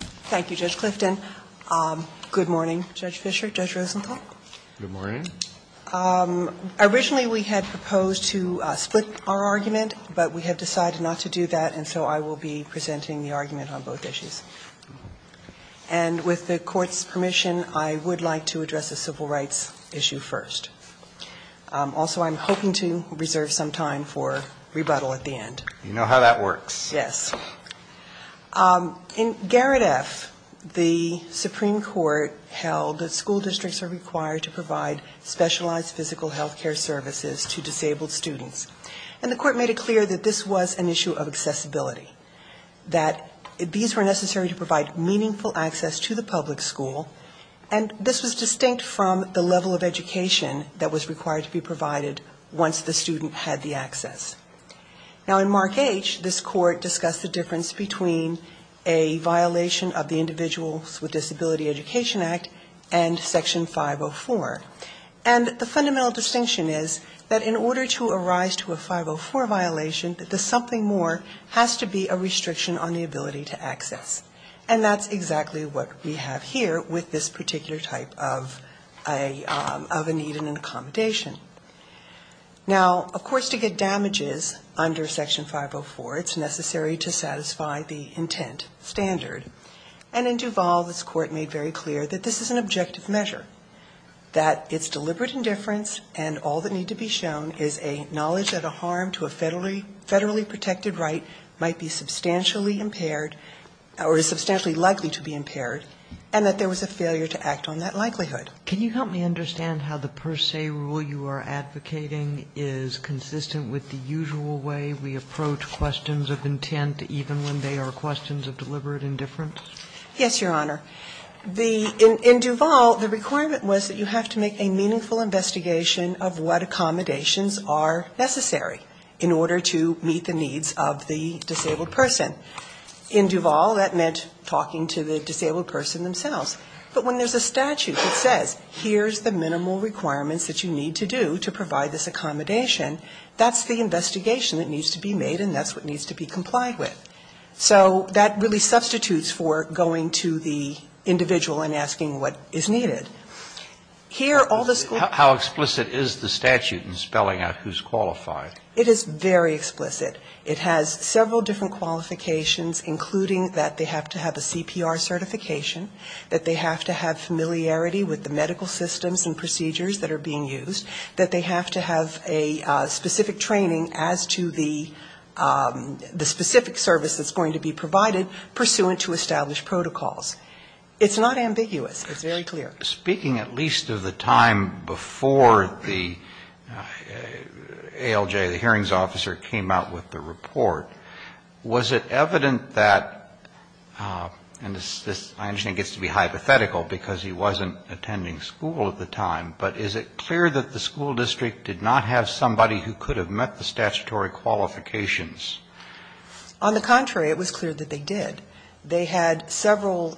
Thank you, Judge Clifton. Good morning, Judge Fischer, Judge Rosenthal. Good morning. Originally, we had proposed to split our argument, but we have decided not to do that, and so I will be presenting the argument on both issues. And with the Court's permission, I would like to address the civil rights issue first. Also, I'm hoping to reserve some time for rebuttal at the end. You know how that works. Yes. In Garrett F., the Supreme Court held that school districts are required to provide specialized physical health care services to disabled students. And the Court made it clear that this was an issue of accessibility, that these were necessary to provide meaningful access to the public school, and this was distinct from the level of education that was required to be provided once the student had the access. Now, in Mark H., this Court discussed the difference between a violation of the Individuals with Disability Education Act and Section 504. And the fundamental distinction is that in order to arise to a 504 violation, that the something more has to be a restriction on the ability to access. And that's exactly what we have here with this particular type of a need and an accommodation. Now, of course, to get damages under Section 504, it's necessary to satisfy the intent standard. And in Duval, this Court made very clear that this is an objective measure, that it's deliberate indifference and all that need to be shown is a knowledge that a harm to a federally protected right might be substantially impaired or is substantially likely to be impaired, and that there was a failure to act on that likelihood. Can you help me understand how the per se rule you are advocating is consistent with the usual way we approach questions of intent, even when they are questions of deliberate indifference? Yes, Your Honor. In Duval, the requirement was that you have to make a meaningful investigation of what accommodations are necessary in order to meet the needs of the disabled person. In Duval, that meant talking to the disabled person themselves. But when there's a statute that says here's the minimal requirements that you need to do to provide this accommodation, that's the investigation that needs to be made and that's what needs to be complied with. So that really substitutes for going to the individual and asking what is needed. How explicit is the statute in spelling out who's qualified? It is very explicit. It has several different qualifications, including that they have to have a CPR certification, that they have to have familiarity with the medical systems and procedures that are being used, that they have to have a specific training as to the specific service that's going to be provided pursuant to established protocols. It's not ambiguous. It's very clear. Speaking at least of the time before the ALJ, the hearings officer, came out with the report, was it evident that, and this I understand gets to be hypothetical because he wasn't attending school at the time, but is it clear that the school district did not have somebody who could have met the statutory qualifications? On the contrary, it was clear that they did. They had several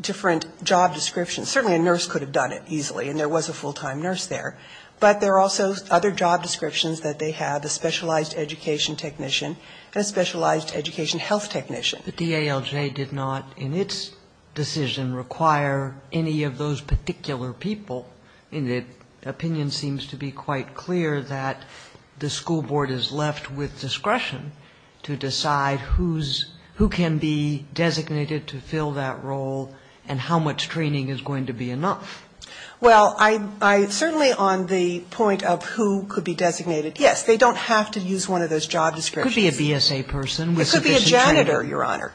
different job descriptions. Certainly a nurse could have done it easily, and there was a full-time nurse there. But there are also other job descriptions that they had, a specialized education technician and a specialized education health technician. But the ALJ did not in its decision require any of those particular people. And the opinion seems to be quite clear that the school board is left with discretion to decide who's – who can be designated to fill that role and how much training is going to be enough. Well, I'm certainly on the point of who could be designated. Yes, they don't have to use one of those job descriptions. It could be a BSA person with sufficient training. It could be a janitor, Your Honor.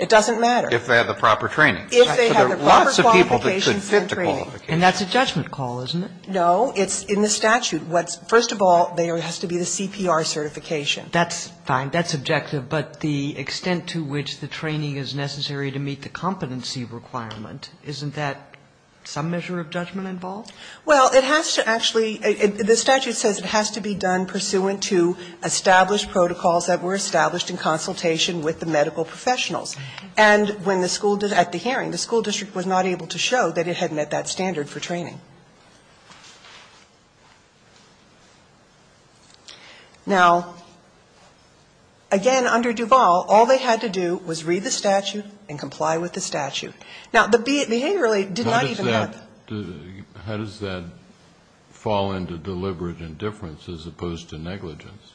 It doesn't matter. If they have the proper training. If they have the proper qualifications and training. And that's a judgment call, isn't it? No. It's in the statute. What's – first of all, there has to be the CPR certification. That's fine. That's objective. But the extent to which the training is necessary to meet the competency requirement, isn't that some measure of judgment involved? Well, it has to actually – the statute says it has to be done pursuant to established protocols that were established in consultation with the medical professionals. And when the school – at the hearing, the school district was not able to show that it had met that standard for training. Now, again, under Duval, all they had to do was read the statute and comply with the statute. Now, the behaviorally did not even have – How does that fall into deliberate indifference as opposed to negligence?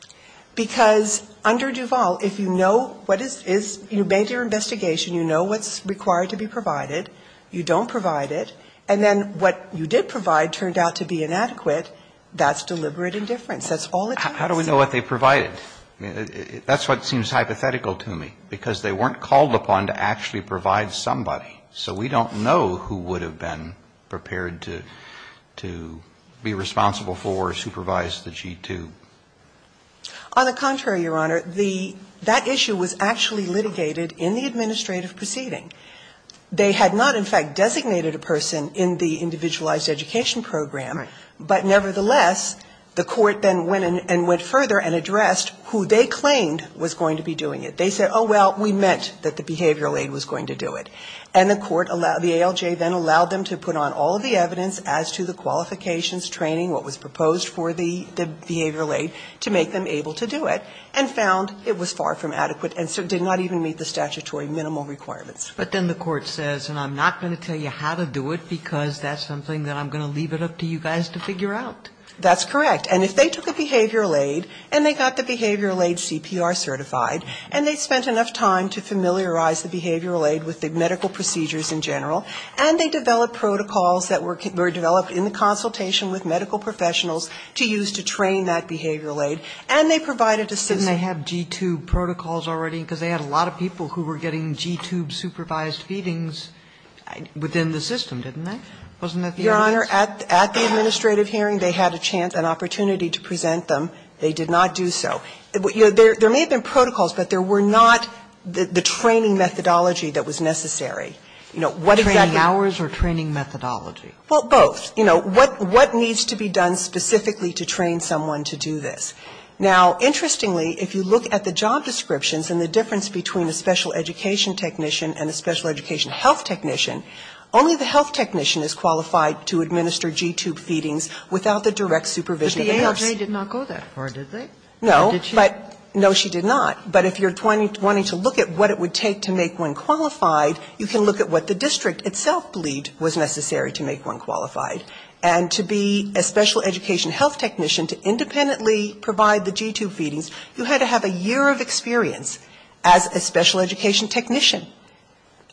Because under Duval, if you know what is – you made your investigation. You know what's required to be provided. You don't provide it. And then what you did provide turned out to be inadequate. That's deliberate indifference. That's all it takes. How do we know what they provided? That's what seems hypothetical to me, because they weren't called upon to actually provide somebody. So we don't know who would have been prepared to be responsible for or supervise the G-2. On the contrary, Your Honor, the – that issue was actually litigated in the administrative proceeding. They had not, in fact, designated a person in the individualized education program, but nevertheless, the court then went and went further and addressed who they claimed was going to be doing it. They said, oh, well, we meant that the behavioral aid was going to do it. And the court – the ALJ then allowed them to put on all of the evidence as to the qualifications, training, what was proposed for the behavioral aid to make them able to do it, and found it was far from adequate and did not even meet the statutory minimal requirements. But then the court says, and I'm not going to tell you how to do it, because that's something that I'm going to leave it up to you guys to figure out. That's correct. And if they took a behavioral aid and they got the behavioral aid CPR certified and they spent enough time to familiarize the behavioral aid with the medical procedures in general, and they developed protocols that were developed in the consultation with medical professionals to use to train that behavioral aid, and they provided a system – Didn't they have G-2 protocols already? Because they had a lot of people who were getting G-2 supervised feedings within the system, didn't they? Wasn't that the case? Your Honor, at the administrative hearing, they had a chance, an opportunity to present them. They did not do so. There may have been protocols, but there were not the training methodology that was necessary. You know, what exactly – Training hours or training methodology? Well, both. You know, what needs to be done specifically to train someone to do this? Now, interestingly, if you look at the job descriptions and the difference between a special education technician and a special education health technician, only the health technician is qualified to administer G-2 feedings without the direct supervision of the nurse. But the AHA did not go that far, did they? No. And did she? No, she did not. But if you're wanting to look at what it would take to make one qualified, you can look at what the district itself believed was necessary to make one qualified. And to be a special education health technician to independently provide the G-2 feedings, you had to have a year of experience as a special education technician.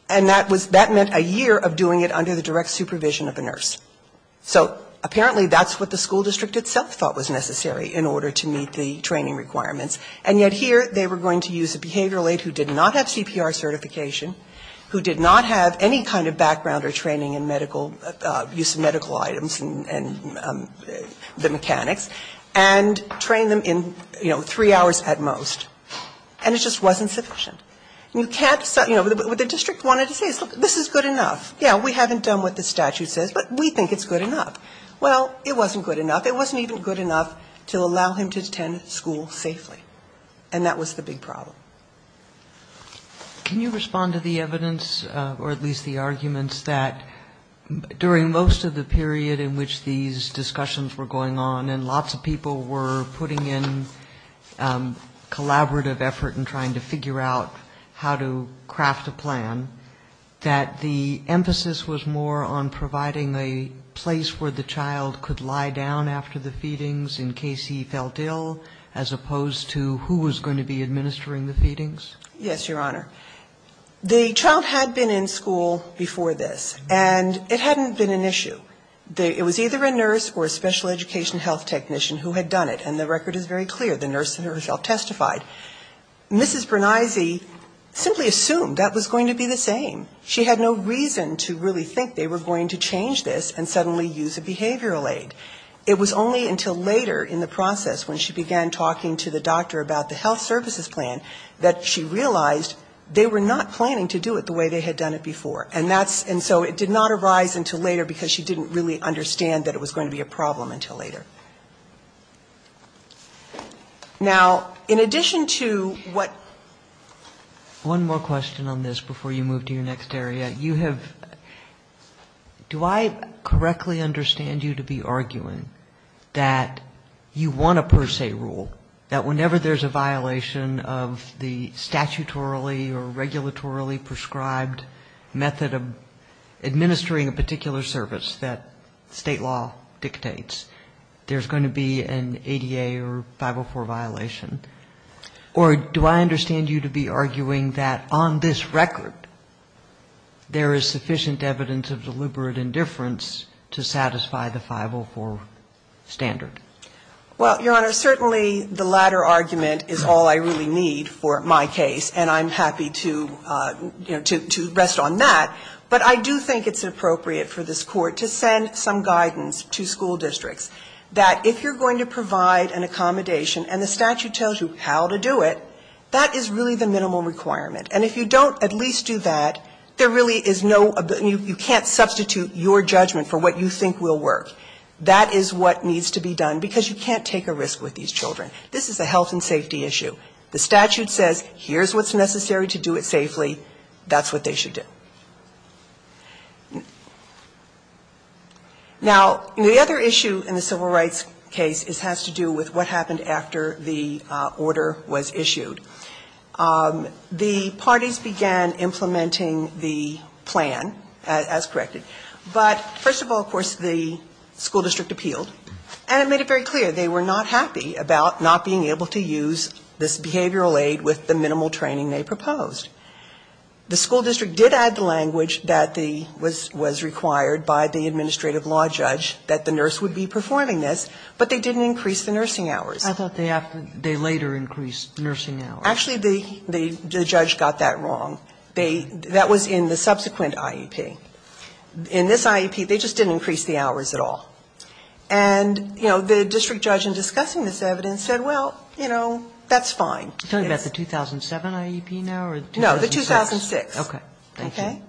And that was – that meant a year of doing it under the direct supervision of a nurse. So apparently that's what the school district itself thought was necessary in order to meet the training requirements. And yet here they were going to use a behavioral aide who did not have CPR certification, who did not have any kind of background or training in medical – use of medical items and the mechanics, and train them in, you know, three hours at most. And it just wasn't sufficient. And you can't – you know, what the district wanted to say is, look, this is good enough. Yeah, we haven't done what the statute says, but we think it's good enough. Well, it wasn't good enough. It wasn't even good enough to allow him to attend school safely. And that was the big problem. Can you respond to the evidence, or at least the arguments, that during most of the period in which these discussions were going on and lots of people were putting in collaborative effort in trying to figure out how to craft a plan, that the emphasis was more on providing a place where the child could lie down after the feedings in opposed to who was going to be administering the feedings? Yes, Your Honor. The child had been in school before this. And it hadn't been an issue. It was either a nurse or a special education health technician who had done it. And the record is very clear. The nurse herself testified. Mrs. Bernese simply assumed that was going to be the same. She had no reason to really think they were going to change this and suddenly use a behavioral aide. It was only until later in the process when she began talking to the doctor about the health services plan that she realized they were not planning to do it the way they had done it before. And that's so it did not arise until later because she didn't really understand that it was going to be a problem until later. Now, in addition to what... One more question on this before you move to your next area. Do I correctly understand you to be arguing that you want a per se rule, that whenever there's a violation of the statutorily or regulatorily prescribed method of administering a particular service that state law dictates, there's going to be an ADA or 504 violation? Or do I understand you to be arguing that on this record there is sufficient evidence of deliberate indifference to satisfy the 504 standard? Well, Your Honor, certainly the latter argument is all I really need for my case, and I'm happy to, you know, to rest on that. But I do think it's appropriate for this Court to send some guidance to school districts that if you're going to provide an accommodation, and the statute tells you how to do it, that is really the minimal requirement. And if you don't at least do that, there really is no you can't substitute your judgment for what you think will work. That is what needs to be done, because you can't take a risk with these children. This is a health and safety issue. The statute says here's what's necessary to do it safely. That's what they should do. Now, the other issue in the civil rights case has to do with what happened after the order was issued. The parties began implementing the plan, as corrected. But first of all, of course, the school district appealed, and it made it very clear they were not happy about not being able to use this behavioral aid with the minimal training they proposed. The school district did add the language that was required by the administrative law judge that the nurse would be performing this, but they didn't increase the nursing hours. Sotomayor, I thought they later increased nursing hours. Actually, the judge got that wrong. That was in the subsequent IEP. In this IEP, they just didn't increase the hours at all. And, you know, the district judge in discussing this evidence said, well, you know, that's fine. Are you talking about the 2007 IEP now or the 2006? No, the 2006. Okay. Thank you. Okay?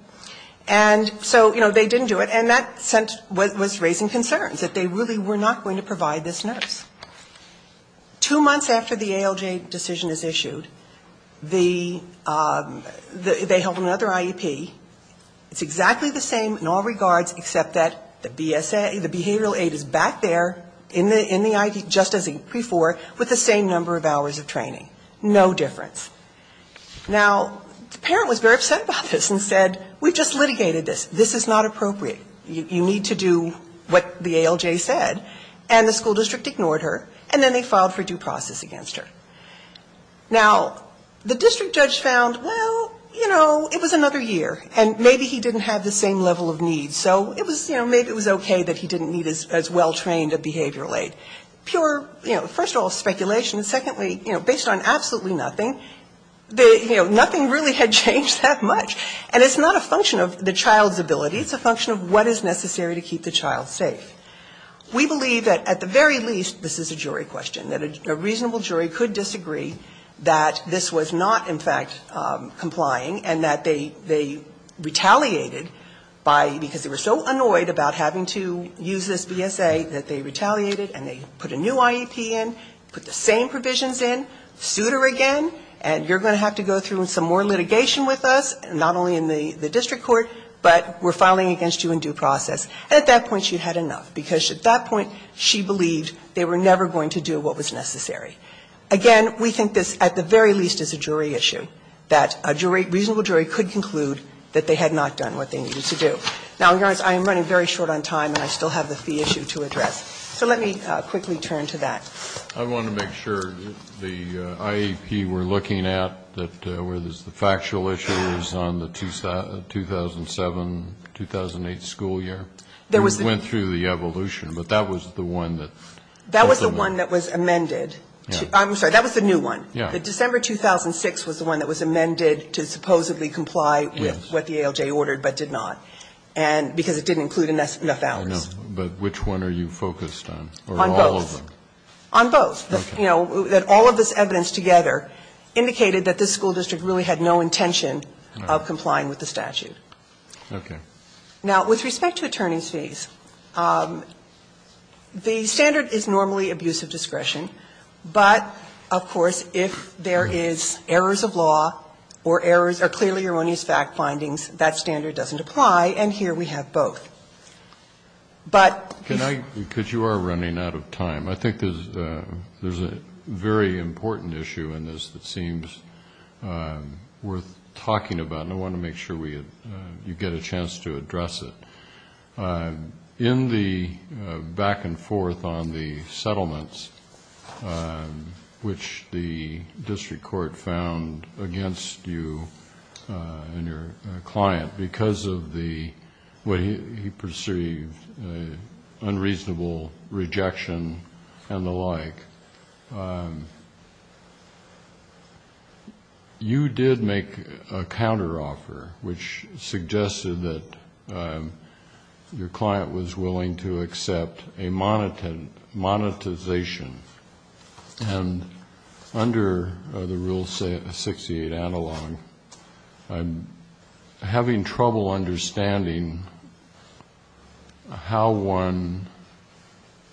And so, you know, they didn't do it, and that was raising concerns, that they really were not going to provide this nurse. Two months after the ALJ decision is issued, they held another IEP. It's exactly the same in all regards except that the behavioral aid is back there in the IEP just as before with the same number of hours of training. No difference. Now, the parent was very upset about this and said, we just litigated this. This is not appropriate. You need to do what the ALJ said. And the school district ignored her, and then they filed for due process against her. Now, the district judge found, well, you know, it was another year, and maybe he didn't have the same level of need. So it was, you know, maybe it was okay that he didn't need as well-trained a behavioral aid. Pure, you know, first of all, speculation. Secondly, you know, based on absolutely nothing, you know, nothing really had changed that much. And it's not a function of the child's ability. It's a function of what is necessary to keep the child safe. We believe that at the very least, this is a jury question, that a reasonable jury could disagree that this was not, in fact, complying, and that they retaliated by, because they were so annoyed about having to use this BSA, that they retaliated and they put a new IEP in, put the same provisions in, sued her again, and you're going to have to go through some more litigation with us, not only in the district court, but we're filing against you in due process. And at that point, she had enough, because at that point, she believed they were never going to do what was necessary. Again, we think this, at the very least, is a jury issue, that a jury, a reasonable jury could conclude that they had not done what they needed to do. Now, Your Honor, I am running very short on time, and I still have the fee issue to address. So let me quickly turn to that. Kennedy. I want to make sure the IEP we're looking at, where there's the factual issues on the 2007-2008 school year, we went through the evolution, but that was the one that was the one that was amended. I'm sorry, that was the new one. The December 2006 was the one that was amended to supposedly comply with what the ALJ ordered, but did not, because it didn't include enough hours. But which one are you focused on? On both. On both. You know, that all of this evidence together indicated that this school district really had no intention of complying with the statute. Okay. Now, with respect to attorneys' fees, the standard is normally abusive discretion, but, of course, if there is errors of law or errors or clearly erroneous fact findings, that standard doesn't apply. And here we have both. But this one. Because you are running out of time. I think there's a very important issue in this that seems worth talking about, and I want to make sure you get a chance to address it. In the back-and-forth on the settlements, which the district court found against you and your client because of the way he perceived unreasonable rejection and the like, you did make a counteroffer, which suggested that your client was willing to accept a monetization. And under the Rule 68 analog, I'm having trouble understanding how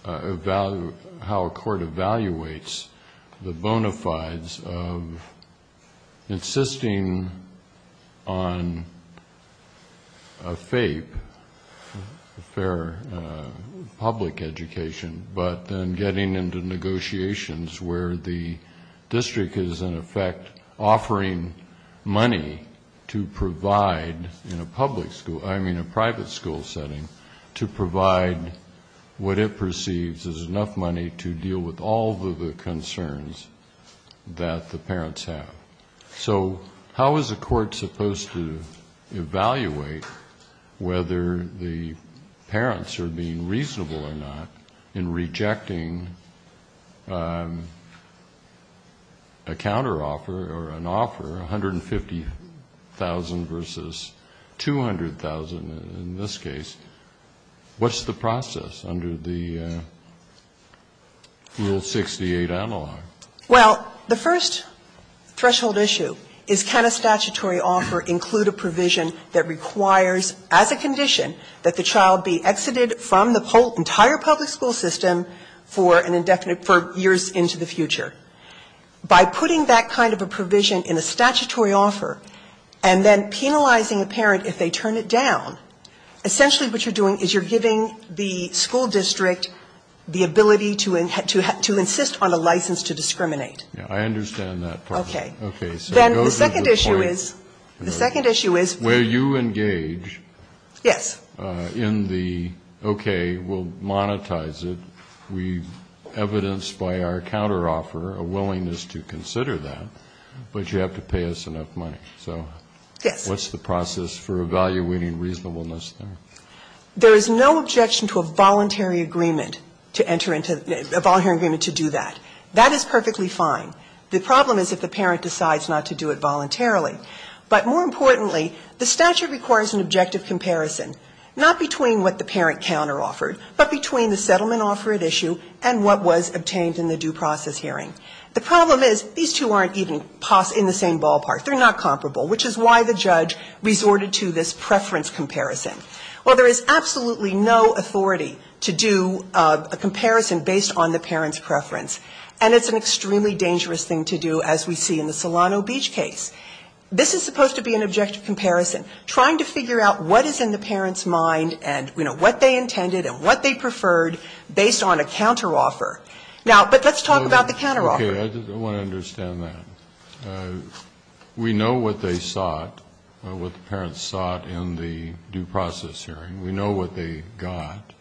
a court evaluates the bona fides of insisting on a FAPE, a fair public education, but then getting into negotiations where the district is, in effect, offering money to provide in a public school, I mean a private school setting, to provide what it perceives is enough money to deal with all of the concerns that the parents have. So how is a court supposed to evaluate whether the parents are being reasonable or not in rejecting a counteroffer or an offer, 150,000 versus 200,000 in this case? What's the process under the Rule 68 analog? Well, the first threshold issue is can a statutory offer include a provision that requires, as a condition, that the child be exited from the whole entire public school system for an indefinite, for years into the future. By putting that kind of a provision in a statutory offer and then penalizing a parent if they turn it down, essentially what you're doing is you're giving the school district the ability to insist on a license to discriminate. I understand that part. Okay. Okay. So it goes to the point where you engage in the, okay, we'll monetize it, we've evidenced by our counteroffer a willingness to consider that, but you have to pay us enough money. So what's the process for evaluating reasonableness there? There is no objection to a voluntary agreement to enter into, a voluntary agreement to do that. That is perfectly fine. The problem is if the parent decides not to do it voluntarily. But more importantly, the statute requires an objective comparison, not between what the parent counteroffered, but between the settlement offer at issue and what was obtained in the due process hearing. The problem is these two aren't even in the same ballpark. They're not comparable, which is why the judge resorted to this preference comparison. Well, there is absolutely no authority to do a comparison based on the parent's preference. And it's an extremely dangerous thing to do, as we see in the Solano Beach case. This is supposed to be an objective comparison, trying to figure out what is in the parent's mind and, you know, what they intended and what they preferred based on a counteroffer. Now, but let's talk about the counteroffer. Okay. I want to understand that. We know what they sought, what the parents sought in the due process hearing. We know what they got.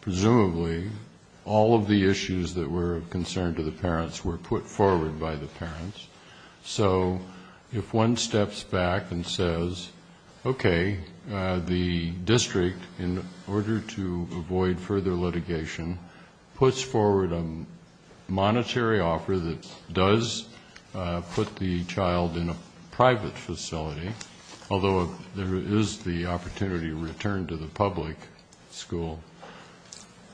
Presumably all of the issues that were of concern to the parents were put forward by the parents. So if one steps back and says, okay, the district, in order to avoid further litigation, puts forward a monetary offer that does put the child in a private facility, although there is the opportunity to return to the public school,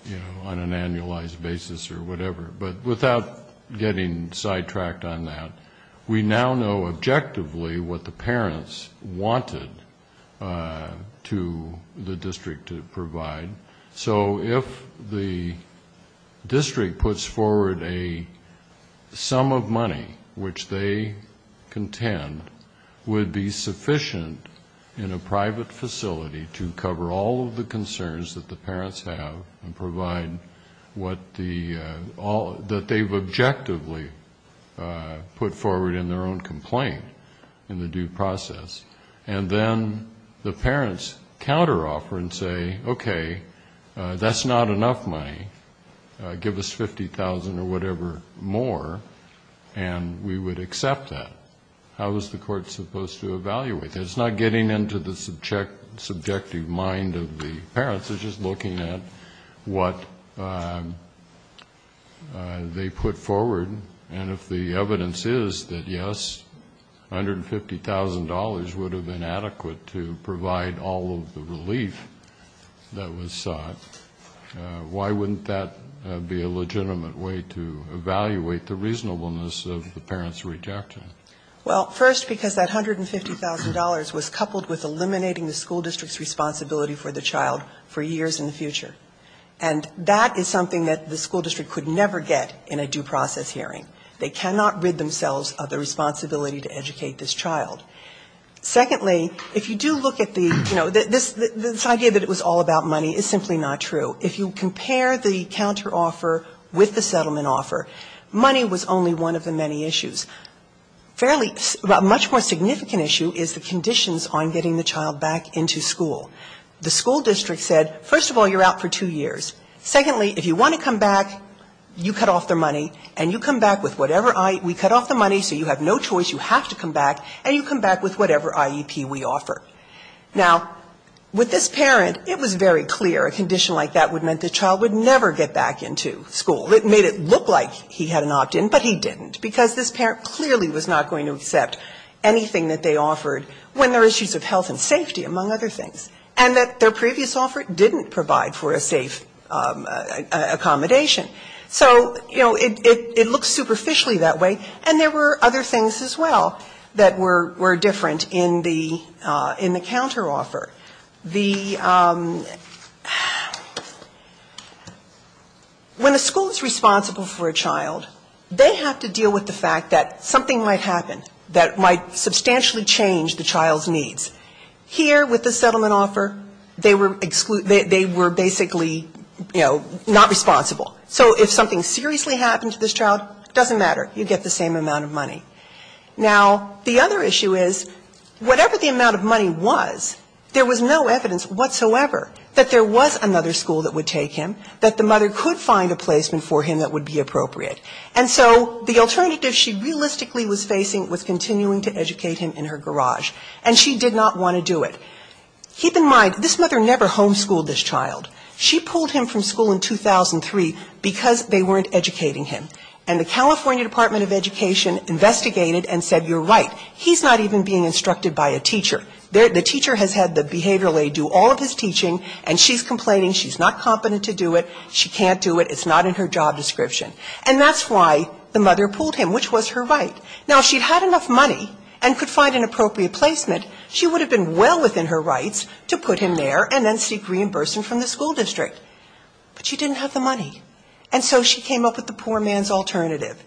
you know, on an annualized basis or whatever. But without getting sidetracked on that, we now know objectively what the parents wanted to the district to provide. So if the district puts forward a sum of money which they contend would be sufficient in a private facility to cover all of the concerns that the parents have and provide what the, that they've objectively put forward in their own complaint in the due process, and then the parents counteroffer and say, okay, that's not enough money. Give us $50,000 or whatever more, and we would accept that. How is the court supposed to evaluate that? It's not getting into the subjective mind of the parents. It's just looking at what they put forward. And if the evidence is that, yes, $150,000 would have been adequate to provide all of the relief that was sought, why wouldn't that be a legitimate way to evaluate the reasonableness of the parents' rejection? Well, first, because that $150,000 was coupled with eliminating the school district's And that is something that the school district could never get in a due process hearing. They cannot rid themselves of the responsibility to educate this child. Secondly, if you do look at the, you know, this idea that it was all about money is simply not true. If you compare the counteroffer with the settlement offer, money was only one of the many issues. Fairly, a much more significant issue is the conditions on getting the child back into school. The school district said, first of all, you're out for two years. Secondly, if you want to come back, you cut off their money, and you come back with whatever IEP. We cut off the money, so you have no choice. You have to come back, and you come back with whatever IEP we offer. Now, with this parent, it was very clear a condition like that would mean the child would never get back into school. It made it look like he had an opt-in, but he didn't, because this parent clearly was not going to accept anything that they offered when there were issues of health and safety, among other things. And that their previous offer didn't provide for a safe accommodation. So, you know, it looks superficially that way, and there were other things as well that were different in the counteroffer. When a school is responsible for a child, they have to deal with the fact that something might happen that might substantially change the child's needs. Here, with the settlement offer, they were basically, you know, not responsible. So if something seriously happened to this child, it doesn't matter. You get the same amount of money. Now, the other issue is, whatever the amount of money was, there was no evidence whatsoever that there was another school that would take him, that the mother could find a placement for him that would be appropriate. And so the alternative she realistically was facing was continuing to educate him in her garage. And she did not want to do it. Keep in mind, this mother never homeschooled this child. She pulled him from school in 2003 because they weren't educating him. And the California Department of Education investigated and said, you're right, he's not even being instructed by a teacher. The teacher has had the behavioral aid do all of his teaching, and she's complaining she's not competent to do it. She can't do it. It's not in her job description. And that's why the mother pulled him, which was her right. Now, if she had enough money and could find an appropriate placement, she would have been well within her rights to put him there and then seek reimbursement from the school district. But she didn't have the money. And so she came up with the poor man's alternative,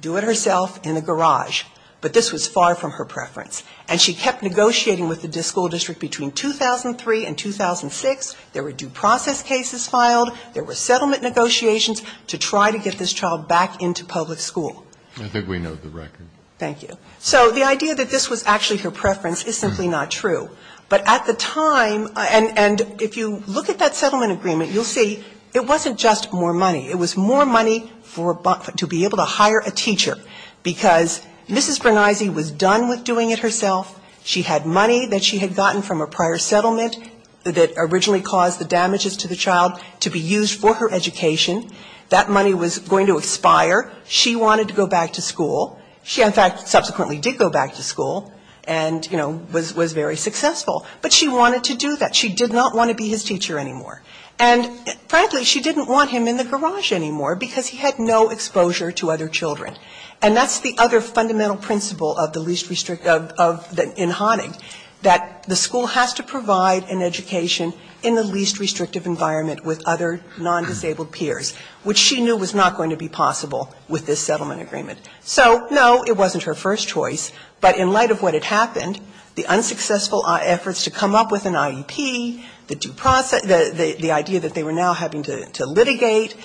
do it herself in a garage. But this was far from her preference. And she kept negotiating with the school district between 2003 and 2006. There were due process cases filed. There were settlement negotiations to try to get this child back into public school. Breyer. I think we know the record. Thank you. So the idea that this was actually her preference is simply not true. But at the time, and if you look at that settlement agreement, you'll see it wasn't just more money. It was more money to be able to hire a teacher, because Mrs. Bernisi was done with doing it herself. She had money that she had gotten from a prior settlement that originally caused the damages to the child to be used for her education. That money was going to expire. She wanted to go back to school. She, in fact, subsequently did go back to school and, you know, was very successful. But she wanted to do that. She did not want to be his teacher anymore. And frankly, she didn't want him in the garage anymore, because he had no exposure to other children. And that's the other fundamental principle of the least restrictive of the in Honig, that the school has to provide an education in the least restrictive environment with other non-disabled peers, which she knew was not going to be possible with this settlement agreement. So, no, it wasn't her first choice. But in light of what had happened, the unsuccessful efforts to come up with an IEP, the due process – the idea that they were now having to litigate,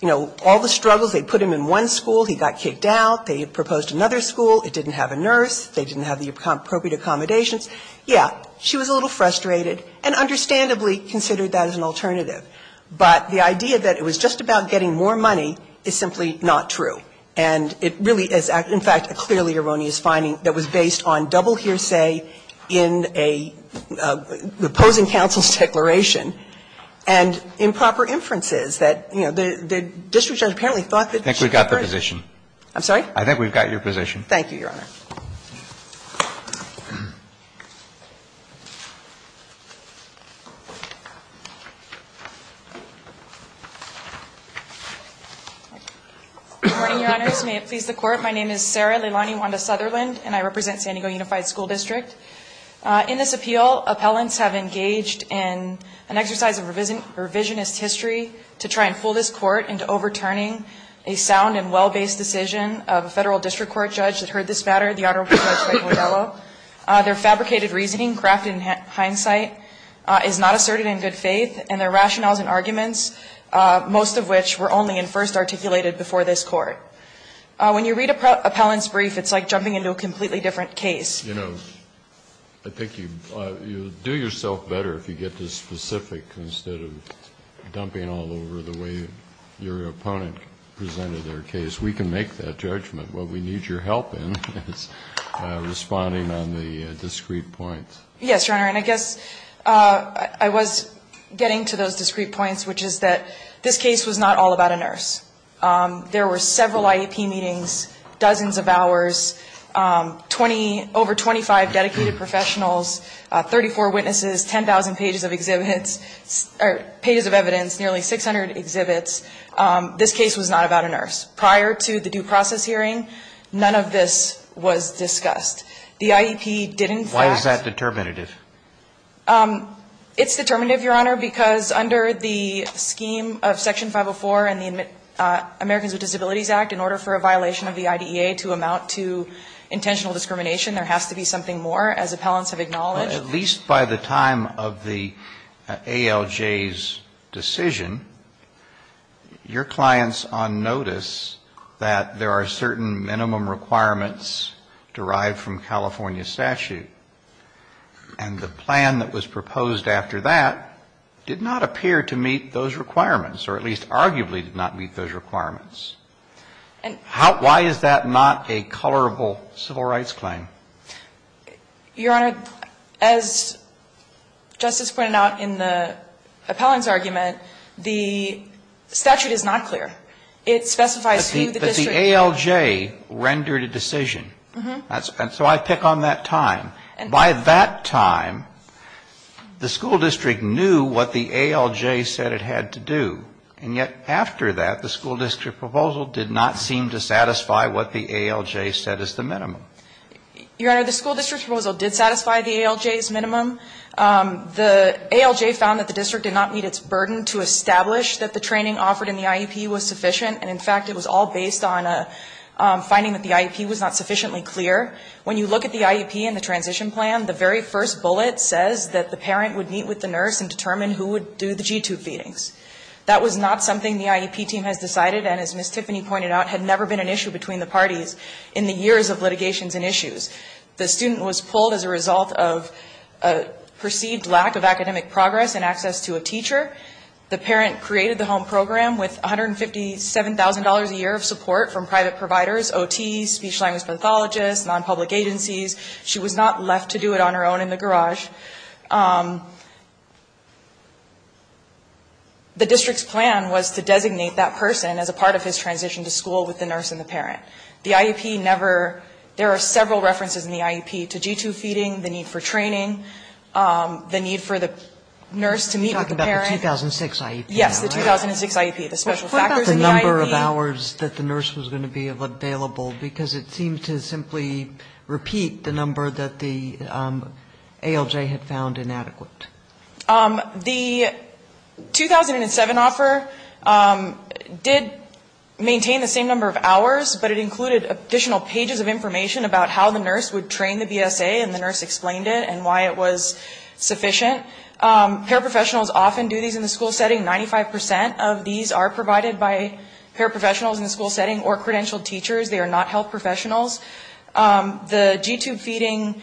you know, all the struggles. They put him in one school. He got kicked out. They proposed another school. It didn't have a nurse. They didn't have the appropriate accommodations. Yeah, she was a little frustrated and understandably considered that as an alternative. But the idea that it was just about getting more money is simply not true. And it really is, in fact, a clearly erroneous finding that was based on double hearsay in a opposing counsel's declaration and improper inferences that, you know, the district judge apparently thought that she was correct. I think we've got the position. I'm sorry? I think we've got your position. Thank you, Your Honor. Good morning, Your Honors. May it please the Court. My name is Sarah Leilani Wanda-Sutherland, and I represent San Diego Unified School District. In this appeal, appellants have engaged in an exercise of revisionist history to try and fool this Court into overturning a sound and well-based decision of a This is not the case. This is not the case. Their fabricated reasoning, crafted in hindsight, is not asserted in good faith and their rationales and arguments, most of which were only in first articulated before this Court. When you read an appellant's brief, it's like jumping into a completely different case. I think you do yourself better if you get to specific instead of dumping all over the way your opponent presented their case. We can make that judgment. What we need your help in is responding on the discrete points. Yes, Your Honor, and I guess I was getting to those discrete points, which is that this case was not all about a nurse. There were several IEP meetings, dozens of hours, over 25 dedicated professionals, 34 witnesses, 10,000 pages of exhibits, or pages of evidence, nearly 600 exhibits. This case was not about a nurse. Prior to the due process hearing, none of this was discussed. The IEP did, in fact ---- Why is that determinative? It's determinative, Your Honor, because under the scheme of Section 504 and the Americans with Disabilities Act, in order for a violation of the IDEA to amount to intentional discrimination, there has to be something more, as appellants have acknowledged. Well, at least by the time of the ALJ's decision, your clients on notice that there are certain minimum requirements derived from California statute, and the plan that was proposed after that did not appear to meet those requirements, or at least arguably did not meet those requirements. Why is that not a colorable civil rights claim? Your Honor, as Justice pointed out in the appellant's argument, the statute is not clear. It specifies who the district ---- But the ALJ rendered a decision. And so I pick on that time. By that time, the school district knew what the ALJ said it had to do. And yet after that, the school district proposal did not seem to satisfy what the ALJ said is the minimum. Your Honor, the school district proposal did satisfy the ALJ's minimum. The ALJ found that the district did not meet its burden to establish that the training offered in the IEP was sufficient. And in fact, it was all based on finding that the IEP was not sufficiently clear. When you look at the IEP and the transition plan, the very first bullet says that the parent would meet with the nurse and determine who would do the G-tube feedings. That was not something the IEP team has decided. And as Ms. Tiffany pointed out, had never been an issue between the parties in the years of litigations and issues. The student was pulled as a result of a perceived lack of academic progress and access to a teacher. The parent created the home program with $157,000 a year of support from private providers, OTs, speech-language pathologists, non-public agencies. She was not left to do it on her own in the garage. The district's plan was to designate that person as a part of his transition to school with the nurse and the parent. The IEP never ‑‑ there are several references in the IEP to G-tube feeding, the need for training, the need for the nurse to meet with the parent. Kagan. You're talking about the 2006 IEP. Yes, the 2006 IEP. The special factors in the IEP. What about the number of hours that the nurse was going to be available? Because it seemed to simply repeat the number that the ALJ had found inadequate. The 2007 offer did maintain the same number of hours, but it included additional pages of information about how the nurse would train the BSA and the nurse explained it and why it was sufficient. Paraprofessionals often do these in the school setting. 95% of these are provided by paraprofessionals in the school setting or credentialed teachers. They are not health professionals. The G-tube feeding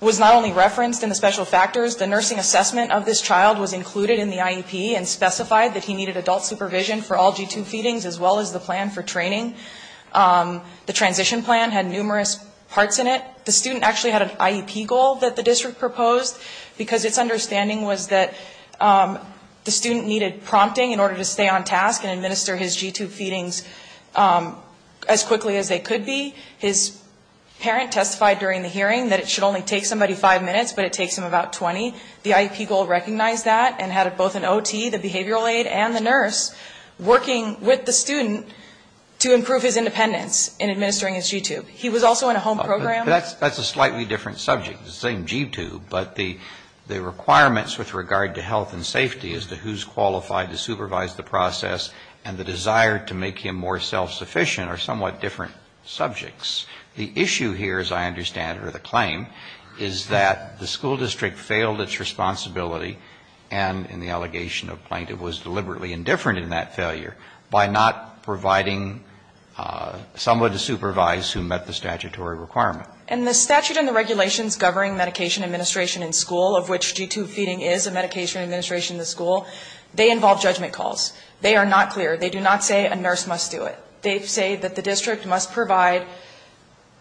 was not only referenced in the special factors. The nursing assessment of this child was included in the IEP and specified that he needed adult supervision for all G-tube feedings as well as the plan for training. The transition plan had numerous parts in it. The student actually had an IEP goal that the district proposed because its understanding was that the student needed prompting in order to stay on task and administer his G-tube feedings as quickly as they could be. His parent testified during the hearing that it should only take somebody five minutes, but it takes him about 20. The IEP goal recognized that and had both an OT, the behavioral aide, and the nurse working with the student to improve his independence in administering his G-tube. He was also in a home program. That's a slightly different subject. It's the same G-tube, but the requirements with regard to health and safety as to who's qualified to supervise the process and the desire to make him more self-sufficient are somewhat different subjects. The issue here, as I understand it, or the claim, is that the school district failed its responsibility and, in the allegation of plaintiff, was deliberately indifferent in that failure by not providing someone to supervise who met the statutory requirement. And the statute and the regulations governing medication administration in school, of which G-tube feeding is a medication administration in the school, they involve judgment calls. They are not clear. They do not say a nurse must do it. They say that the district must provide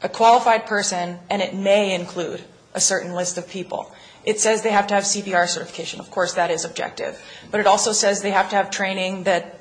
a qualified person, and it may include a certain list of people. It says they have to have CPR certification. Of course, that is objective. But it also says they have to have training that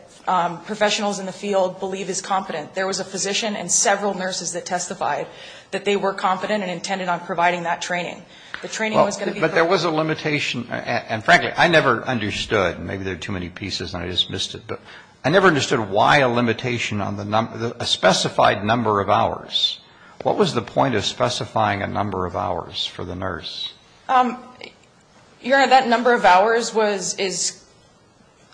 professionals in the field believe is competent. There was a physician and several nurses that testified that they were competent and intended on providing that training. The training was going to be correct. But there was a limitation. And, frankly, I never understood, and maybe there are too many pieces and I just missed it, but I never understood why a limitation on the number, a specified number of hours. What was the point of specifying a number of hours for the nurse? Your Honor, that number of hours was, is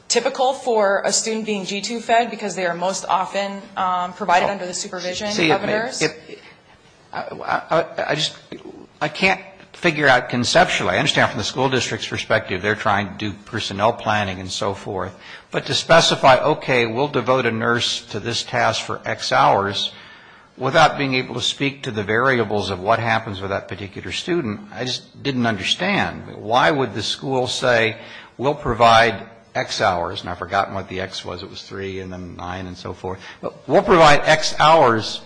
typical for a student being G-tube fed because they are most often provided under the supervision of a nurse. I just, I can't figure out conceptually. I understand from the school district's perspective they are trying to do personnel planning and so forth. But to specify, okay, we'll devote a nurse to this task for X hours without being able to speak to the variables of what happens with that particular student, I just didn't understand. Why would the school say we'll provide X hours, and I've forgotten what the X was. It was three and then nine and so forth. We'll provide X hours,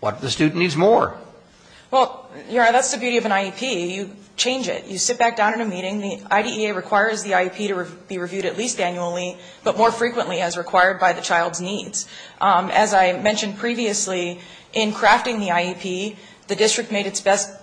what if the student needs more? Well, Your Honor, that's the beauty of an IEP. You change it. You sit back down at a meeting. The IDEA requires the IEP to be reviewed at least annually, but more frequently as required by the child's needs. As I mentioned previously, in crafting the IEP, the district made its best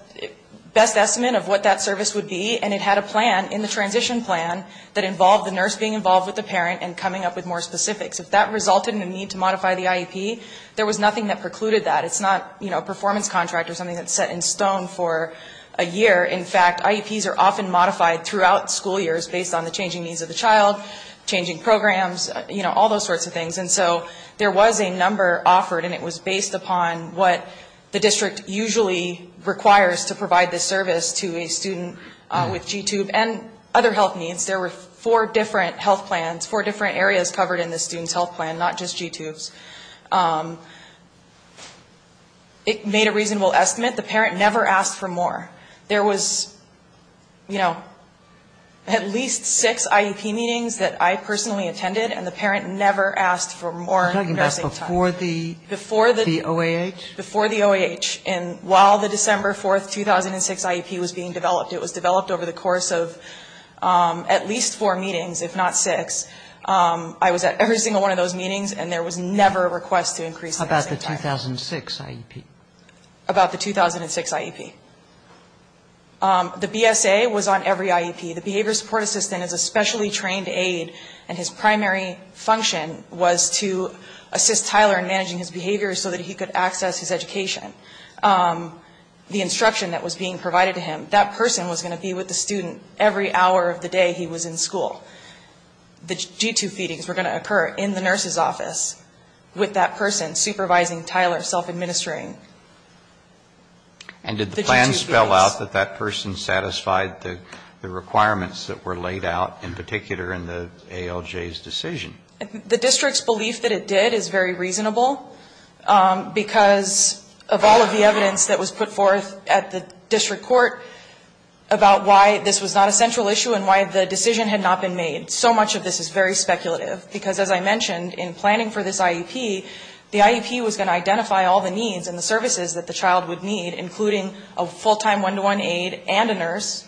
estimate of what that service would be, and it had a plan in the transition plan that involved the nurse being involved with the parent and coming up with more specifics. If that resulted in a need to modify the IEP, there was nothing that precluded that. It's not a performance contract or something that's set in stone for a year. In fact, IEPs are often modified throughout school years based on the changing needs of the child, changing programs, all those sorts of things. And so there was a number offered, and it was based upon what the district usually requires to provide this service to a student with G-tube and other health needs. There were four different health plans, four different areas covered in the student's health plan, not just G-tubes. It made a reasonable estimate. The parent never asked for more. There was, you know, at least six IEP meetings that I personally attended, and the parent never asked for more nursing time. You're talking about before the OAH? Before the OAH, and while the December 4, 2006 IEP was being developed. It was developed over the course of at least four meetings, if not six. I was at every single one of those meetings, and there was never a request to increase nursing time. About the 2006 IEP? About the 2006 IEP. The BSA was on every IEP. The behavior support assistant is a specially trained aide, and his primary function was to assist Tyler in managing his behavior so that he could access his education. The instruction that was being provided to him, that person was going to be with the student every hour of the day he was in school. The G-tube feedings were going to occur in the nurse's office with that person supervising Tyler self-administering the G-tube feedings. And did the plan spell out that that person satisfied the requirements that were laid out in particular in the ALJ's decision? The district's belief that it did is very reasonable, because of all of the evidence that was put forth at the district court about why this was not a central issue and why the decision had not been made. So much of this is very speculative, because as I mentioned, in planning for this IEP, the IEP was going to identify all the needs and the services that the child would need, including a full-time one-to-one aide and a nurse.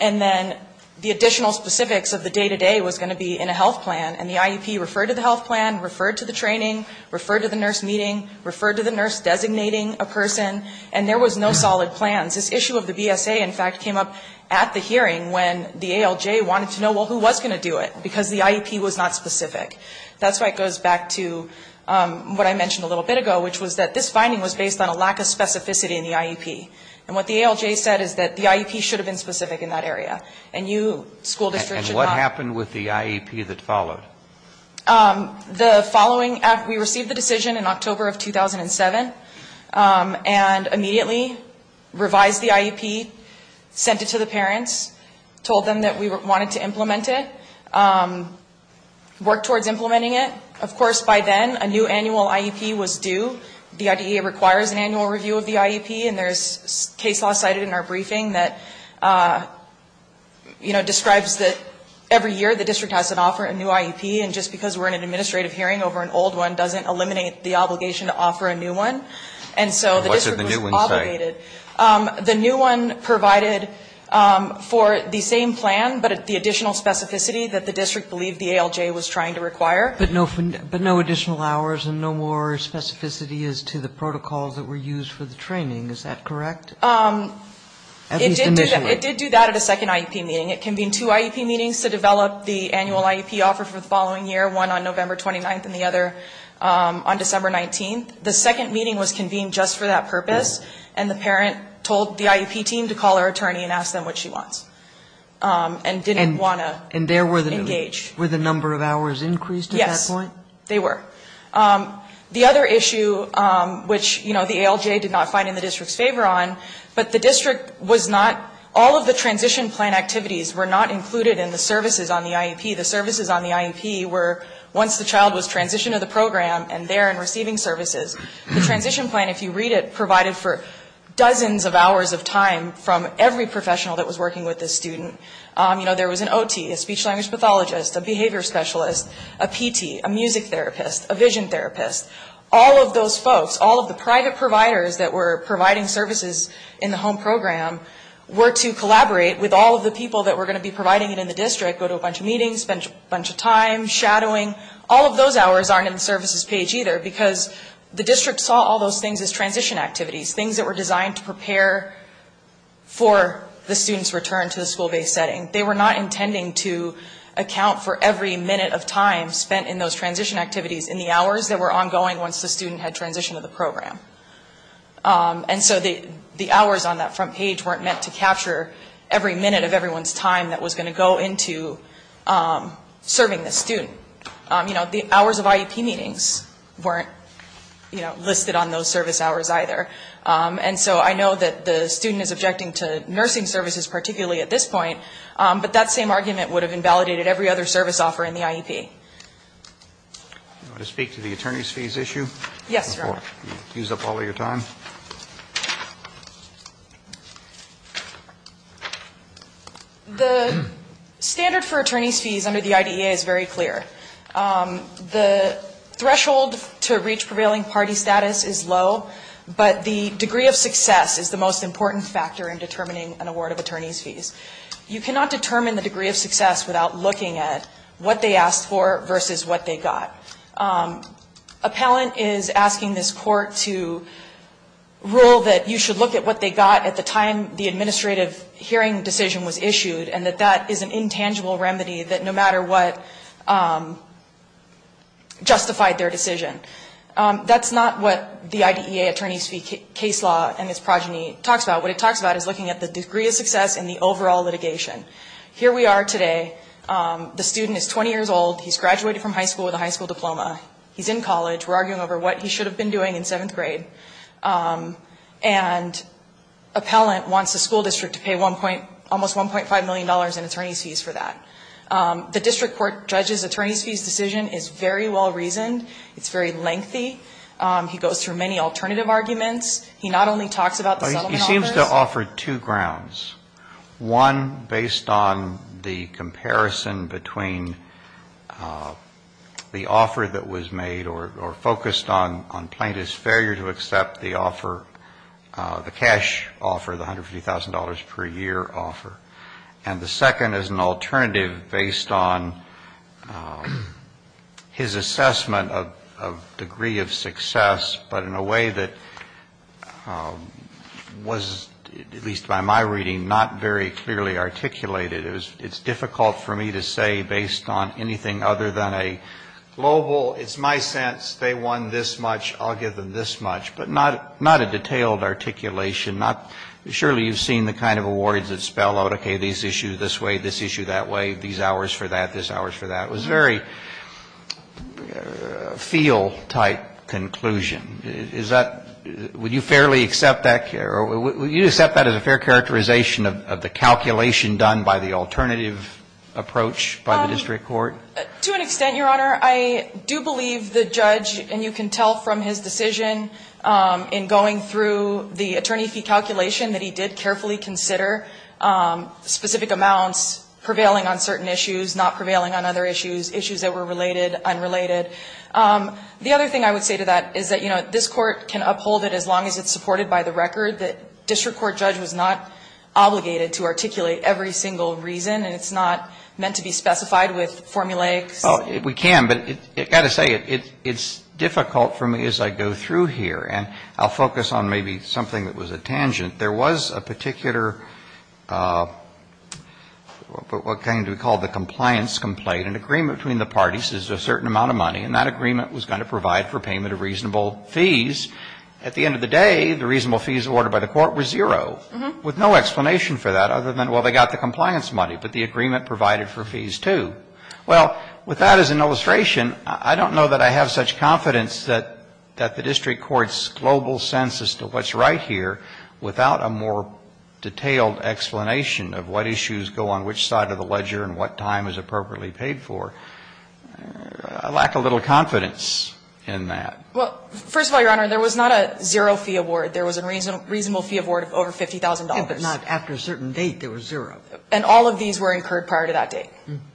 And then the additional specifics of the day-to-day was going to be in a health plan, and the IEP referred to the health plan, referred to the training, referred to the nurse meeting, referred to the nurse designating a person, and there was no solid plans. This issue of the BSA, in fact, came up at the hearing when the ALJ wanted to know, well, who was going to do it, because the IEP was not specific. That's why it goes back to what I mentioned a little bit ago, which was that this finding was based on a lack of specificity in the IEP. And what the ALJ said is that the IEP should have been specific in that area, and you, school district, should not. The following, we received the decision in October of 2007, and immediately revised the IEP, sent it to the parents, told them that we wanted to implement it, worked towards implementing it. Of course, by then, a new annual IEP was due. The IDEA requires an annual review of the IEP, and there's case law cited in our briefing that, you know, describes that every year the district has to review an IEP, and just because we're in an administrative hearing over an old one doesn't eliminate the obligation to offer a new one. And so the district was obligated. And what did the new one say? The new one provided for the same plan, but the additional specificity that the district believed the ALJ was trying to require. But no additional hours and no more specificity as to the protocols that were used for the training. Is that correct? At least initially. It did do that at a second IEP meeting. It convened two IEP meetings to develop the annual IEP offer for the following year, one on November 29th and the other on December 19th. The second meeting was convened just for that purpose. And the parent told the IEP team to call her attorney and ask them what she wants and didn't want to engage. And there were the number of hours increased at that point? Yes, they were. The other issue, which, you know, the ALJ did not find in the district's favor later on, but the district was not, all of the transition plan activities were not included in the services on the IEP. The services on the IEP were once the child was transitioned to the program and there and receiving services. The transition plan, if you read it, provided for dozens of hours of time from every professional that was working with this student. You know, there was an OT, a speech language pathologist, a behavior specialist, a PT, a music therapist, a vision therapist, all of those folks, all who were providing services in the home program, were to collaborate with all of the people that were going to be providing it in the district, go to a bunch of meetings, spend a bunch of time shadowing. All of those hours aren't in the services page either because the district saw all those things as transition activities, things that were designed to prepare for the student's return to the school-based setting. They were not intending to account for every minute of time spent in those transition activities in the hours that were ongoing once the student had transitioned to the program. And so the hours on that front page weren't meant to capture every minute of everyone's time that was going to go into serving this student. You know, the hours of IEP meetings weren't, you know, listed on those service hours either. And so I know that the student is objecting to nursing services particularly at this point, but that same argument would have invalidated every other service offer in the IEP. Do you want to speak to the attorneys' fees issue? Yes, Your Honor. Use up all of your time. The standard for attorneys' fees under the IDEA is very clear. The threshold to reach prevailing party status is low, but the degree of success is the most important factor in determining an award of attorneys' fees. You cannot determine the degree of success without looking at what they asked for versus what they got. Appellant is asking this court to rule that you should look at what they got at the time the administrative hearing decision was issued and that that is an intangible remedy that no matter what justified their decision. That's not what the IDEA attorneys' fee case law and its progeny talks about. What it talks about is looking at the degree of success and the overall litigation. Here we are today. The student is 20 years old. He's graduated from high school with a high school diploma. He's in college. We're arguing over what he should have been doing in seventh grade. And appellant wants the school district to pay almost $1.5 million in attorneys' fees for that. The district court judge's attorneys' fees decision is very well reasoned. It's very lengthy. He goes through many alternative arguments. He not only talks about the settlement offers. He seems to offer two grounds. One, based on the comparison between the offer that was made or focused on plaintiff's failure to accept the offer, the cash offer, the $150,000 per year offer. And the second is an alternative based on his assessment of degree of success, but in a way that was, at least by my reading, not very clearly articulated. It's difficult for me to say based on anything other than a global, it's my sense, they won this much, I'll give them this much. But not a detailed articulation. Surely you've seen the kind of awards that spell out, okay, these issue this way, this issue that way, these hours for that, this hours for that. It was a very feel-type conclusion. Is that, would you fairly accept that, or would you accept that as a fair characterization of the calculation done by the alternative approach by the district court? To an extent, Your Honor. I do believe the judge, and you can tell from his decision in going through the attorney fee calculation, that he did carefully consider specific amounts prevailing on certain issues, not prevailing on other issues, issues that were related, unrelated. The other thing I would say to that is that, you know, this court can uphold it as long as it's supported by the record. The district court judge was not obligated to articulate every single reason, and it's not meant to be specified with formulaic. Well, we can, but I've got to say, it's difficult for me as I go through here. And I'll focus on maybe something that was a tangent. There was a particular, what kind do we call it, the compliance complaint. An agreement between the parties is a certain amount of money, and that agreement was going to provide for payment of reasonable fees. At the end of the day, the reasonable fees awarded by the court were zero, with no explanation for that other than, well, they got the compliance money, but the agreement provided for fees, too. Well, with that as an illustration, I don't know that I have such confidence that the district court's global sense as to what's right here, without a more detailed explanation of what issues go on which side of the ledger and what time is appropriately paid for, I lack a little confidence in that. Well, first of all, Your Honor, there was not a zero fee award. There was a reasonable fee award of over $50,000. If not, after a certain date, there was zero. And all of these were incurred prior to that date.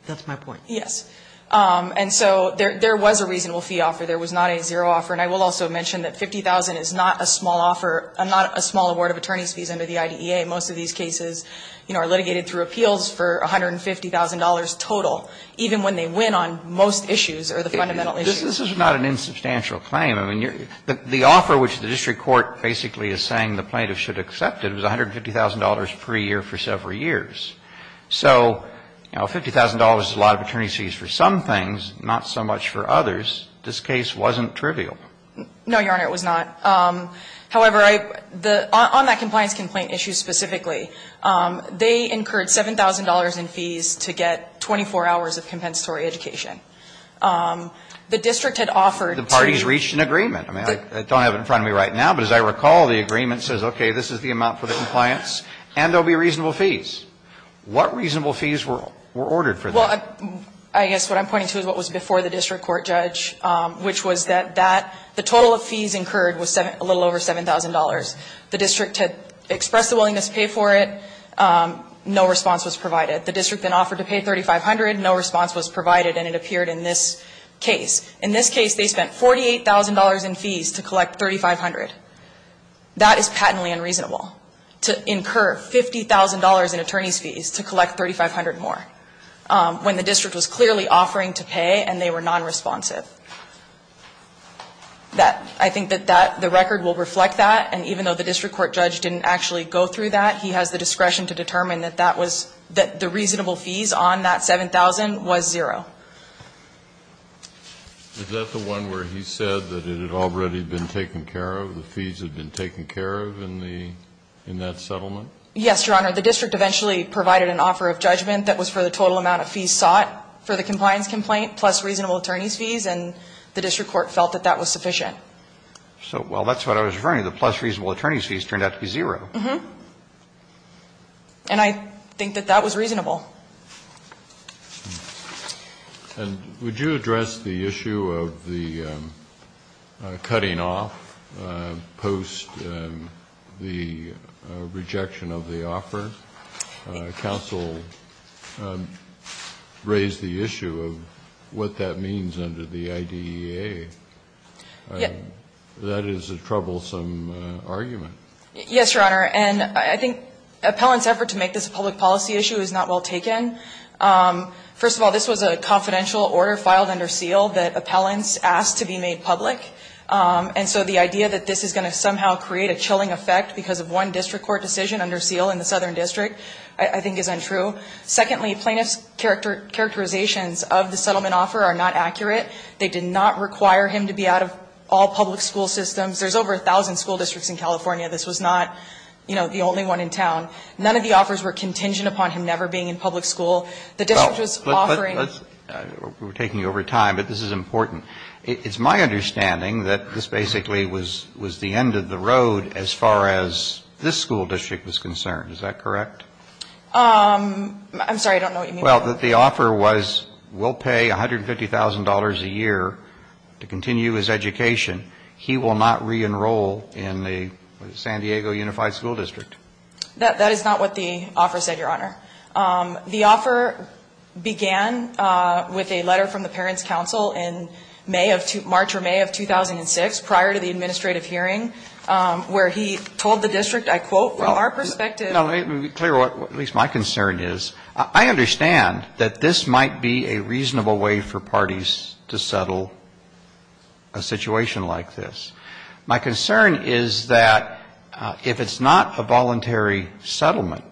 That's my point. Yes. And so there was a reasonable fee offer. There was not a zero offer. And I will also mention that $50,000 is not a small offer, not a small award of attorney's fees under the IDEA. Most of these cases, you know, are litigated through appeals for $150,000 total, even when they win on most issues or the fundamental issues. This is not an insubstantial claim. I mean, the offer which the district court basically is saying the plaintiff should accept it was $150,000 per year for several years. So, you know, $50,000 is a lot of attorney's fees for some things, not so much for others. This case wasn't trivial. No, Your Honor, it was not. However, on that compliance complaint issue specifically, they incurred $7,000 in fees to get 24 hours of compensatory education. The district had offered to you. The parties reached an agreement. I mean, I don't have it in front of me right now. But as I recall, the agreement says, okay, this is the amount for the compliance and there will be reasonable fees. What reasonable fees were ordered for that? Well, I guess what I'm pointing to is what was before the district court judge, which was that the total of fees incurred was a little over $7,000. The district had expressed a willingness to pay for it. No response was provided. The district then offered to pay $3,500. No response was provided, and it appeared in this case. In this case, they spent $48,000 in fees to collect $3,500. That is patently unreasonable, to incur $50,000 in attorney's fees to collect $3,500 more, when the district was clearly offering to pay and they were nonresponsive. I think that the record will reflect that. And even though the district court judge didn't actually go through that, he has the discretion to determine that that was the reasonable fees on that $7,000 was zero. Is that the one where he said that it had already been taken care of, the fees had been taken care of in that settlement? Yes, Your Honor. The district eventually provided an offer of judgment that was for the total amount of fees sought for the compliance complaint, plus reasonable attorney's fees, and the district court felt that that was sufficient. So, well, that's what I was referring to. The plus reasonable attorney's fees turned out to be zero. Uh-huh. And I think that that was reasonable. And would you address the issue of the cutting off post the rejection of the offer? Counsel raised the issue of what that means under the IDEA. Yes. That is a troublesome argument. Yes, Your Honor. And I think Appellant's effort to make this a public policy issue is not well taken First of all, this was a confidential order filed under SEAL that Appellant's asked to be made public. And so the idea that this is going to somehow create a chilling effect because of one district court decision under SEAL in the Southern District I think is untrue. Secondly, plaintiff's characterizations of the settlement offer are not accurate. They did not require him to be out of all public school systems. There's over 1,000 school districts in California. This was not, you know, the only one in town. None of the offers were contingent upon him never being in public school. The district was offering We're taking you over time, but this is important. It's my understanding that this basically was the end of the road as far as this school district was concerned. Is that correct? I'm sorry. I don't know what you mean by that. Well, the offer was we'll pay $150,000 a year to continue his education. He will not re-enroll in the San Diego Unified School District. That is not what the offer said, Your Honor. The offer began with a letter from the Parents' Council in May of March or May of 2006 prior to the administrative hearing where he told the district, I quote, from our perspective Let me tell you what at least my concern is. I understand that this might be a reasonable way for parties to settle a situation like this. My concern is that if it's not a voluntary settlement,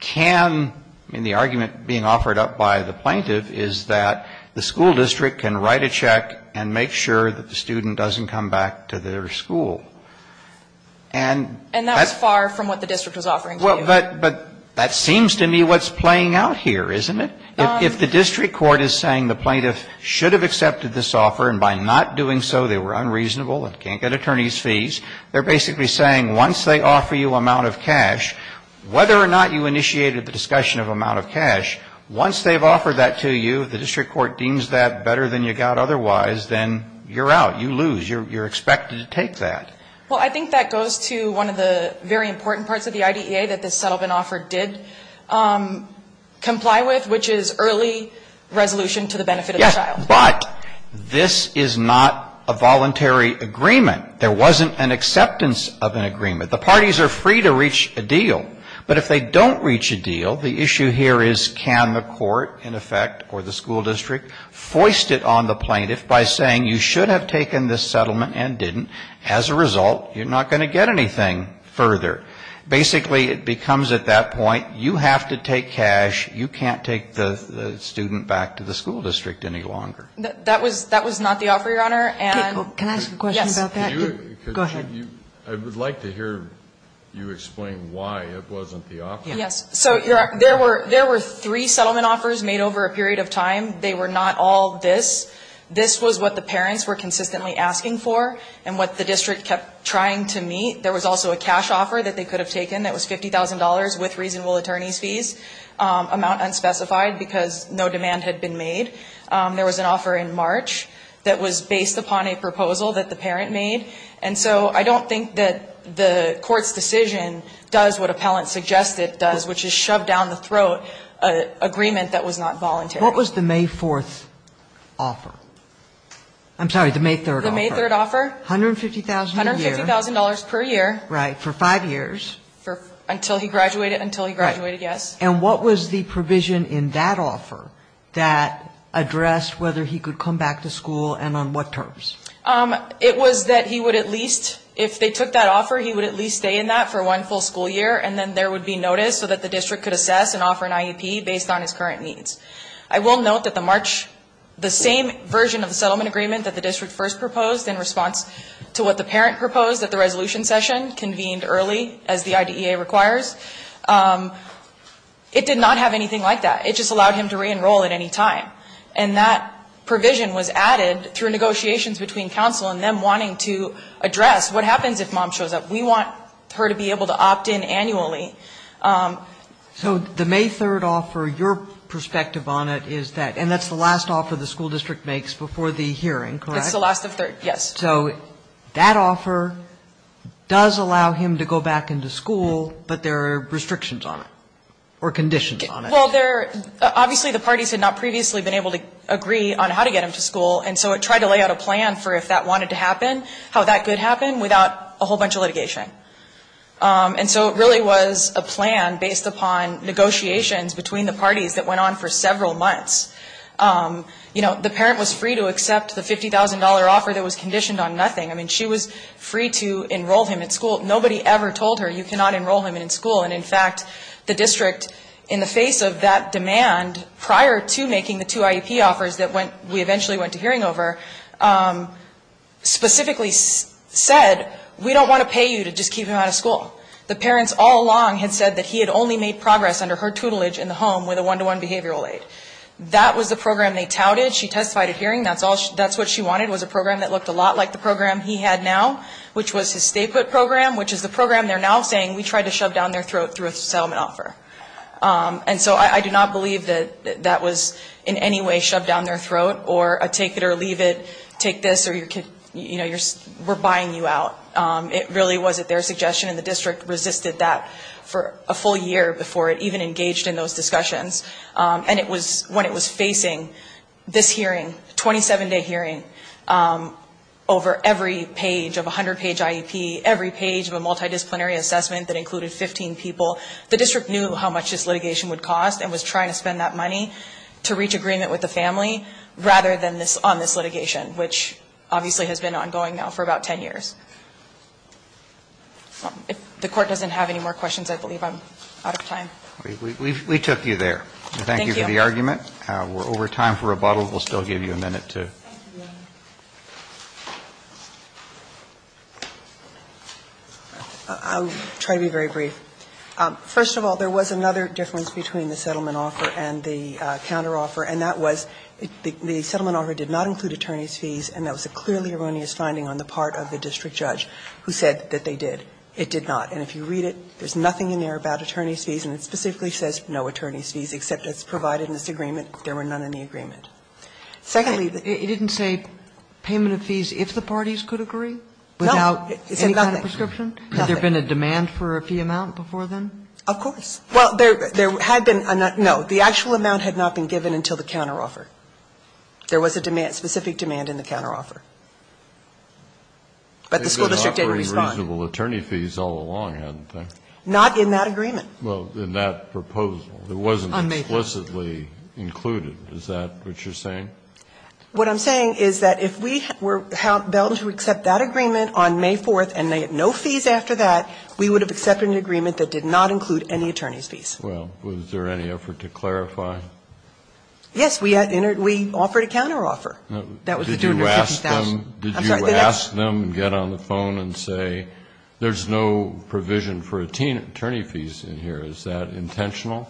can, I mean, the argument being offered up by the plaintiff is that the school district can write a check and make sure that the student doesn't come back to their school. And that's far from what the district was offering to you. But that seems to me what's playing out here, isn't it? If the district court is saying the plaintiff should have accepted this offer and by not doing so they were unreasonable and can't get attorney's fees, they're basically saying once they offer you amount of cash, whether or not you initiated the discussion of amount of cash, once they've offered that to you, the district court deems that better than you got otherwise, then you're out. You lose. You're expected to take that. Well, I think that goes to one of the very important parts of the IDEA that this settlement offer did comply with, which is early resolution to the benefit of the It was not a voluntary agreement. There wasn't an acceptance of an agreement. The parties are free to reach a deal. But if they don't reach a deal, the issue here is can the court, in effect, or the school district, foist it on the plaintiff by saying you should have taken this settlement and didn't. As a result, you're not going to get anything further. Basically, it becomes at that point you have to take cash. You can't take the student back to the school district any longer. That was not the offer, Your Honor. Can I ask a question about that? Go ahead. I would like to hear you explain why it wasn't the offer. Yes. So there were three settlement offers made over a period of time. They were not all this. This was what the parents were consistently asking for and what the district kept trying to meet. There was also a cash offer that they could have taken that was $50,000 with reasonable attorney's fees. Amount unspecified because no demand had been made. There was an offer in March that was based upon a proposal that the parent made. And so I don't think that the court's decision does what appellant suggested does, which is shove down the throat an agreement that was not voluntary. What was the May 4th offer? I'm sorry, the May 3rd offer. The May 3rd offer. $150,000 a year. $150,000 per year. Right. For five years. Until he graduated. Until he graduated, yes. And what was the provision in that offer that addressed whether he could come back to school and on what terms? It was that he would at least, if they took that offer, he would at least stay in that for one full school year and then there would be notice so that the district could assess and offer an IEP based on his current needs. I will note that the March, the same version of the settlement agreement that the district first proposed in response to what the parent proposed at the It did not have anything like that. It just allowed him to reenroll at any time. And that provision was added through negotiations between counsel and them wanting to address what happens if mom shows up. We want her to be able to opt in annually. So the May 3rd offer, your perspective on it is that, and that's the last offer the school district makes before the hearing, correct? It's the last of 3rd, yes. So that offer does allow him to go back into school, but there are restrictions on it. Or conditions on it. Well, there, obviously the parties had not previously been able to agree on how to get him to school, and so it tried to lay out a plan for if that wanted to happen, how that could happen without a whole bunch of litigation. And so it really was a plan based upon negotiations between the parties that went on for several months. You know, the parent was free to accept the $50,000 offer that was conditioned on nothing. I mean, she was free to enroll him at school. Nobody ever told her you cannot enroll him in school. And, in fact, the district, in the face of that demand, prior to making the two IEP offers that we eventually went to hearing over, specifically said, we don't want to pay you to just keep him out of school. The parents all along had said that he had only made progress under her tutelage in the home with a one-to-one behavioral aid. That was the program they touted. She testified at hearing. That's what she wanted was a program that looked a lot like the program he had now, which was his stay-put program, which is the program they're now saying we tried to shove down their throat through a settlement offer. And so I do not believe that that was in any way shoved down their throat, or a take it or leave it, take this, or we're buying you out. It really was at their suggestion, and the district resisted that for a full year before it even engaged in those discussions. And it was when it was facing this hearing, 27-day hearing, over every page of the settlement that included 15 people, the district knew how much this litigation would cost and was trying to spend that money to reach agreement with the family rather than on this litigation, which obviously has been ongoing now for about 10 years. If the court doesn't have any more questions, I believe I'm out of time. We took you there. Thank you for the argument. Thank you. We're over time for rebuttal. We'll still give you a minute to. I'll try to be very brief. First of all, there was another difference between the settlement offer and the counter offer, and that was the settlement offer did not include attorney's fees, and that was a clearly erroneous finding on the part of the district judge who said that they did. It did not. And if you read it, there's nothing in there about attorney's fees, and it specifically says no attorney's fees, except it's provided in this agreement. There were none in the agreement. Secondly the It didn't say payment of fees if the parties could agree? No. Without any kind of prescription? It said nothing. Nothing. Had there been a demand for a fee amount before then? Of course. Well, there had been a no. The actual amount had not been given until the counter offer. There was a demand, specific demand in the counter offer. But the school district didn't respond. They did offer reasonable attorney fees all along, hadn't they? Not in that agreement. Well, in that proposal. It wasn't explicitly included. Is that what you're saying? What I'm saying is that if we were held to accept that agreement on May 4th and they had no fees after that, we would have accepted an agreement that did not include any attorney's fees. Well, was there any effort to clarify? Yes. We offered a counter offer. That was the $250,000. Did you ask them and get on the phone and say there's no provision for attorney fees in here? Is that intentional?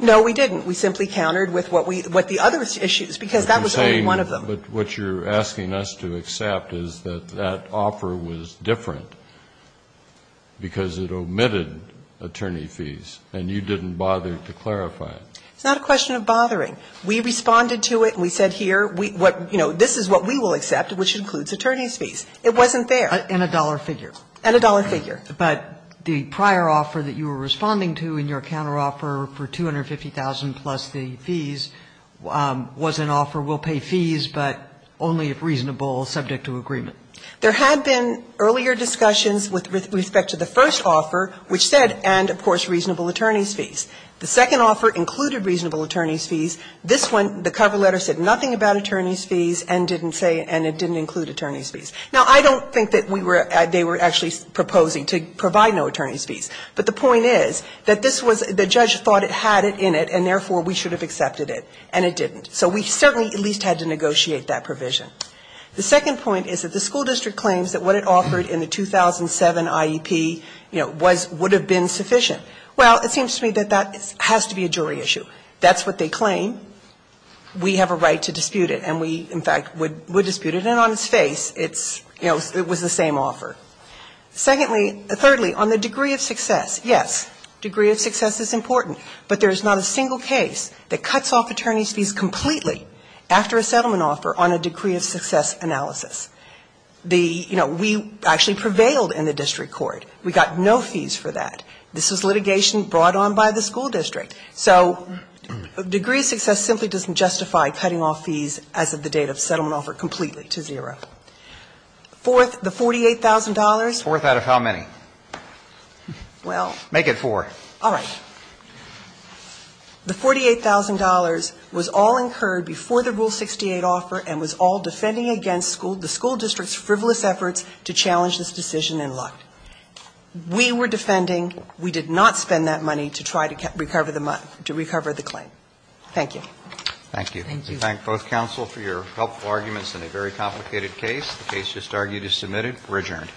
No, we didn't. We simply countered with what we the other issues, because that was only one of them. But what you're asking us to accept is that that offer was different because it omitted attorney fees, and you didn't bother to clarify it. It's not a question of bothering. We responded to it. We said here, you know, this is what we will accept, which includes attorney's fees. It wasn't there. And a dollar figure. And a dollar figure. But the prior offer that you were responding to in your counter offer for $250,000 plus the fees was an offer, we'll pay fees, but only if reasonable, subject to agreement. There had been earlier discussions with respect to the first offer, which said and, of course, reasonable attorney's fees. The second offer included reasonable attorney's fees. This one, the cover letter, said nothing about attorney's fees and didn't say and it didn't include attorney's fees. Now, I don't think that we were, they were actually proposing to provide no attorney's fees. But the point is that this was, the judge thought it had it in it, and therefore we should have accepted it. And it didn't. So we certainly at least had to negotiate that provision. The second point is that the school district claims that what it offered in the 2007 IEP, you know, was, would have been sufficient. Well, it seems to me that that has to be a jury issue. That's what they claim. We have a right to dispute it. And we, in fact, would dispute it. And so, again, on its face, it's, you know, it was the same offer. Secondly, thirdly, on the degree of success, yes, degree of success is important. But there is not a single case that cuts off attorney's fees completely after a settlement offer on a degree of success analysis. The, you know, we actually prevailed in the district court. We got no fees for that. This was litigation brought on by the school district. So degree of success simply doesn't justify cutting off fees as of the date of settlement offer completely to zero. Fourth, the $48,000. Fourth out of how many? Well. Make it four. All right. The $48,000 was all incurred before the Rule 68 offer and was all defending against school, the school district's frivolous efforts to challenge this decision in luck. We were defending. We did not spend that money to try to recover the claim. Thank you. Thank you. We thank both counsel for your helpful arguments in a very complicated case. The case just argued is submitted. We're adjourned.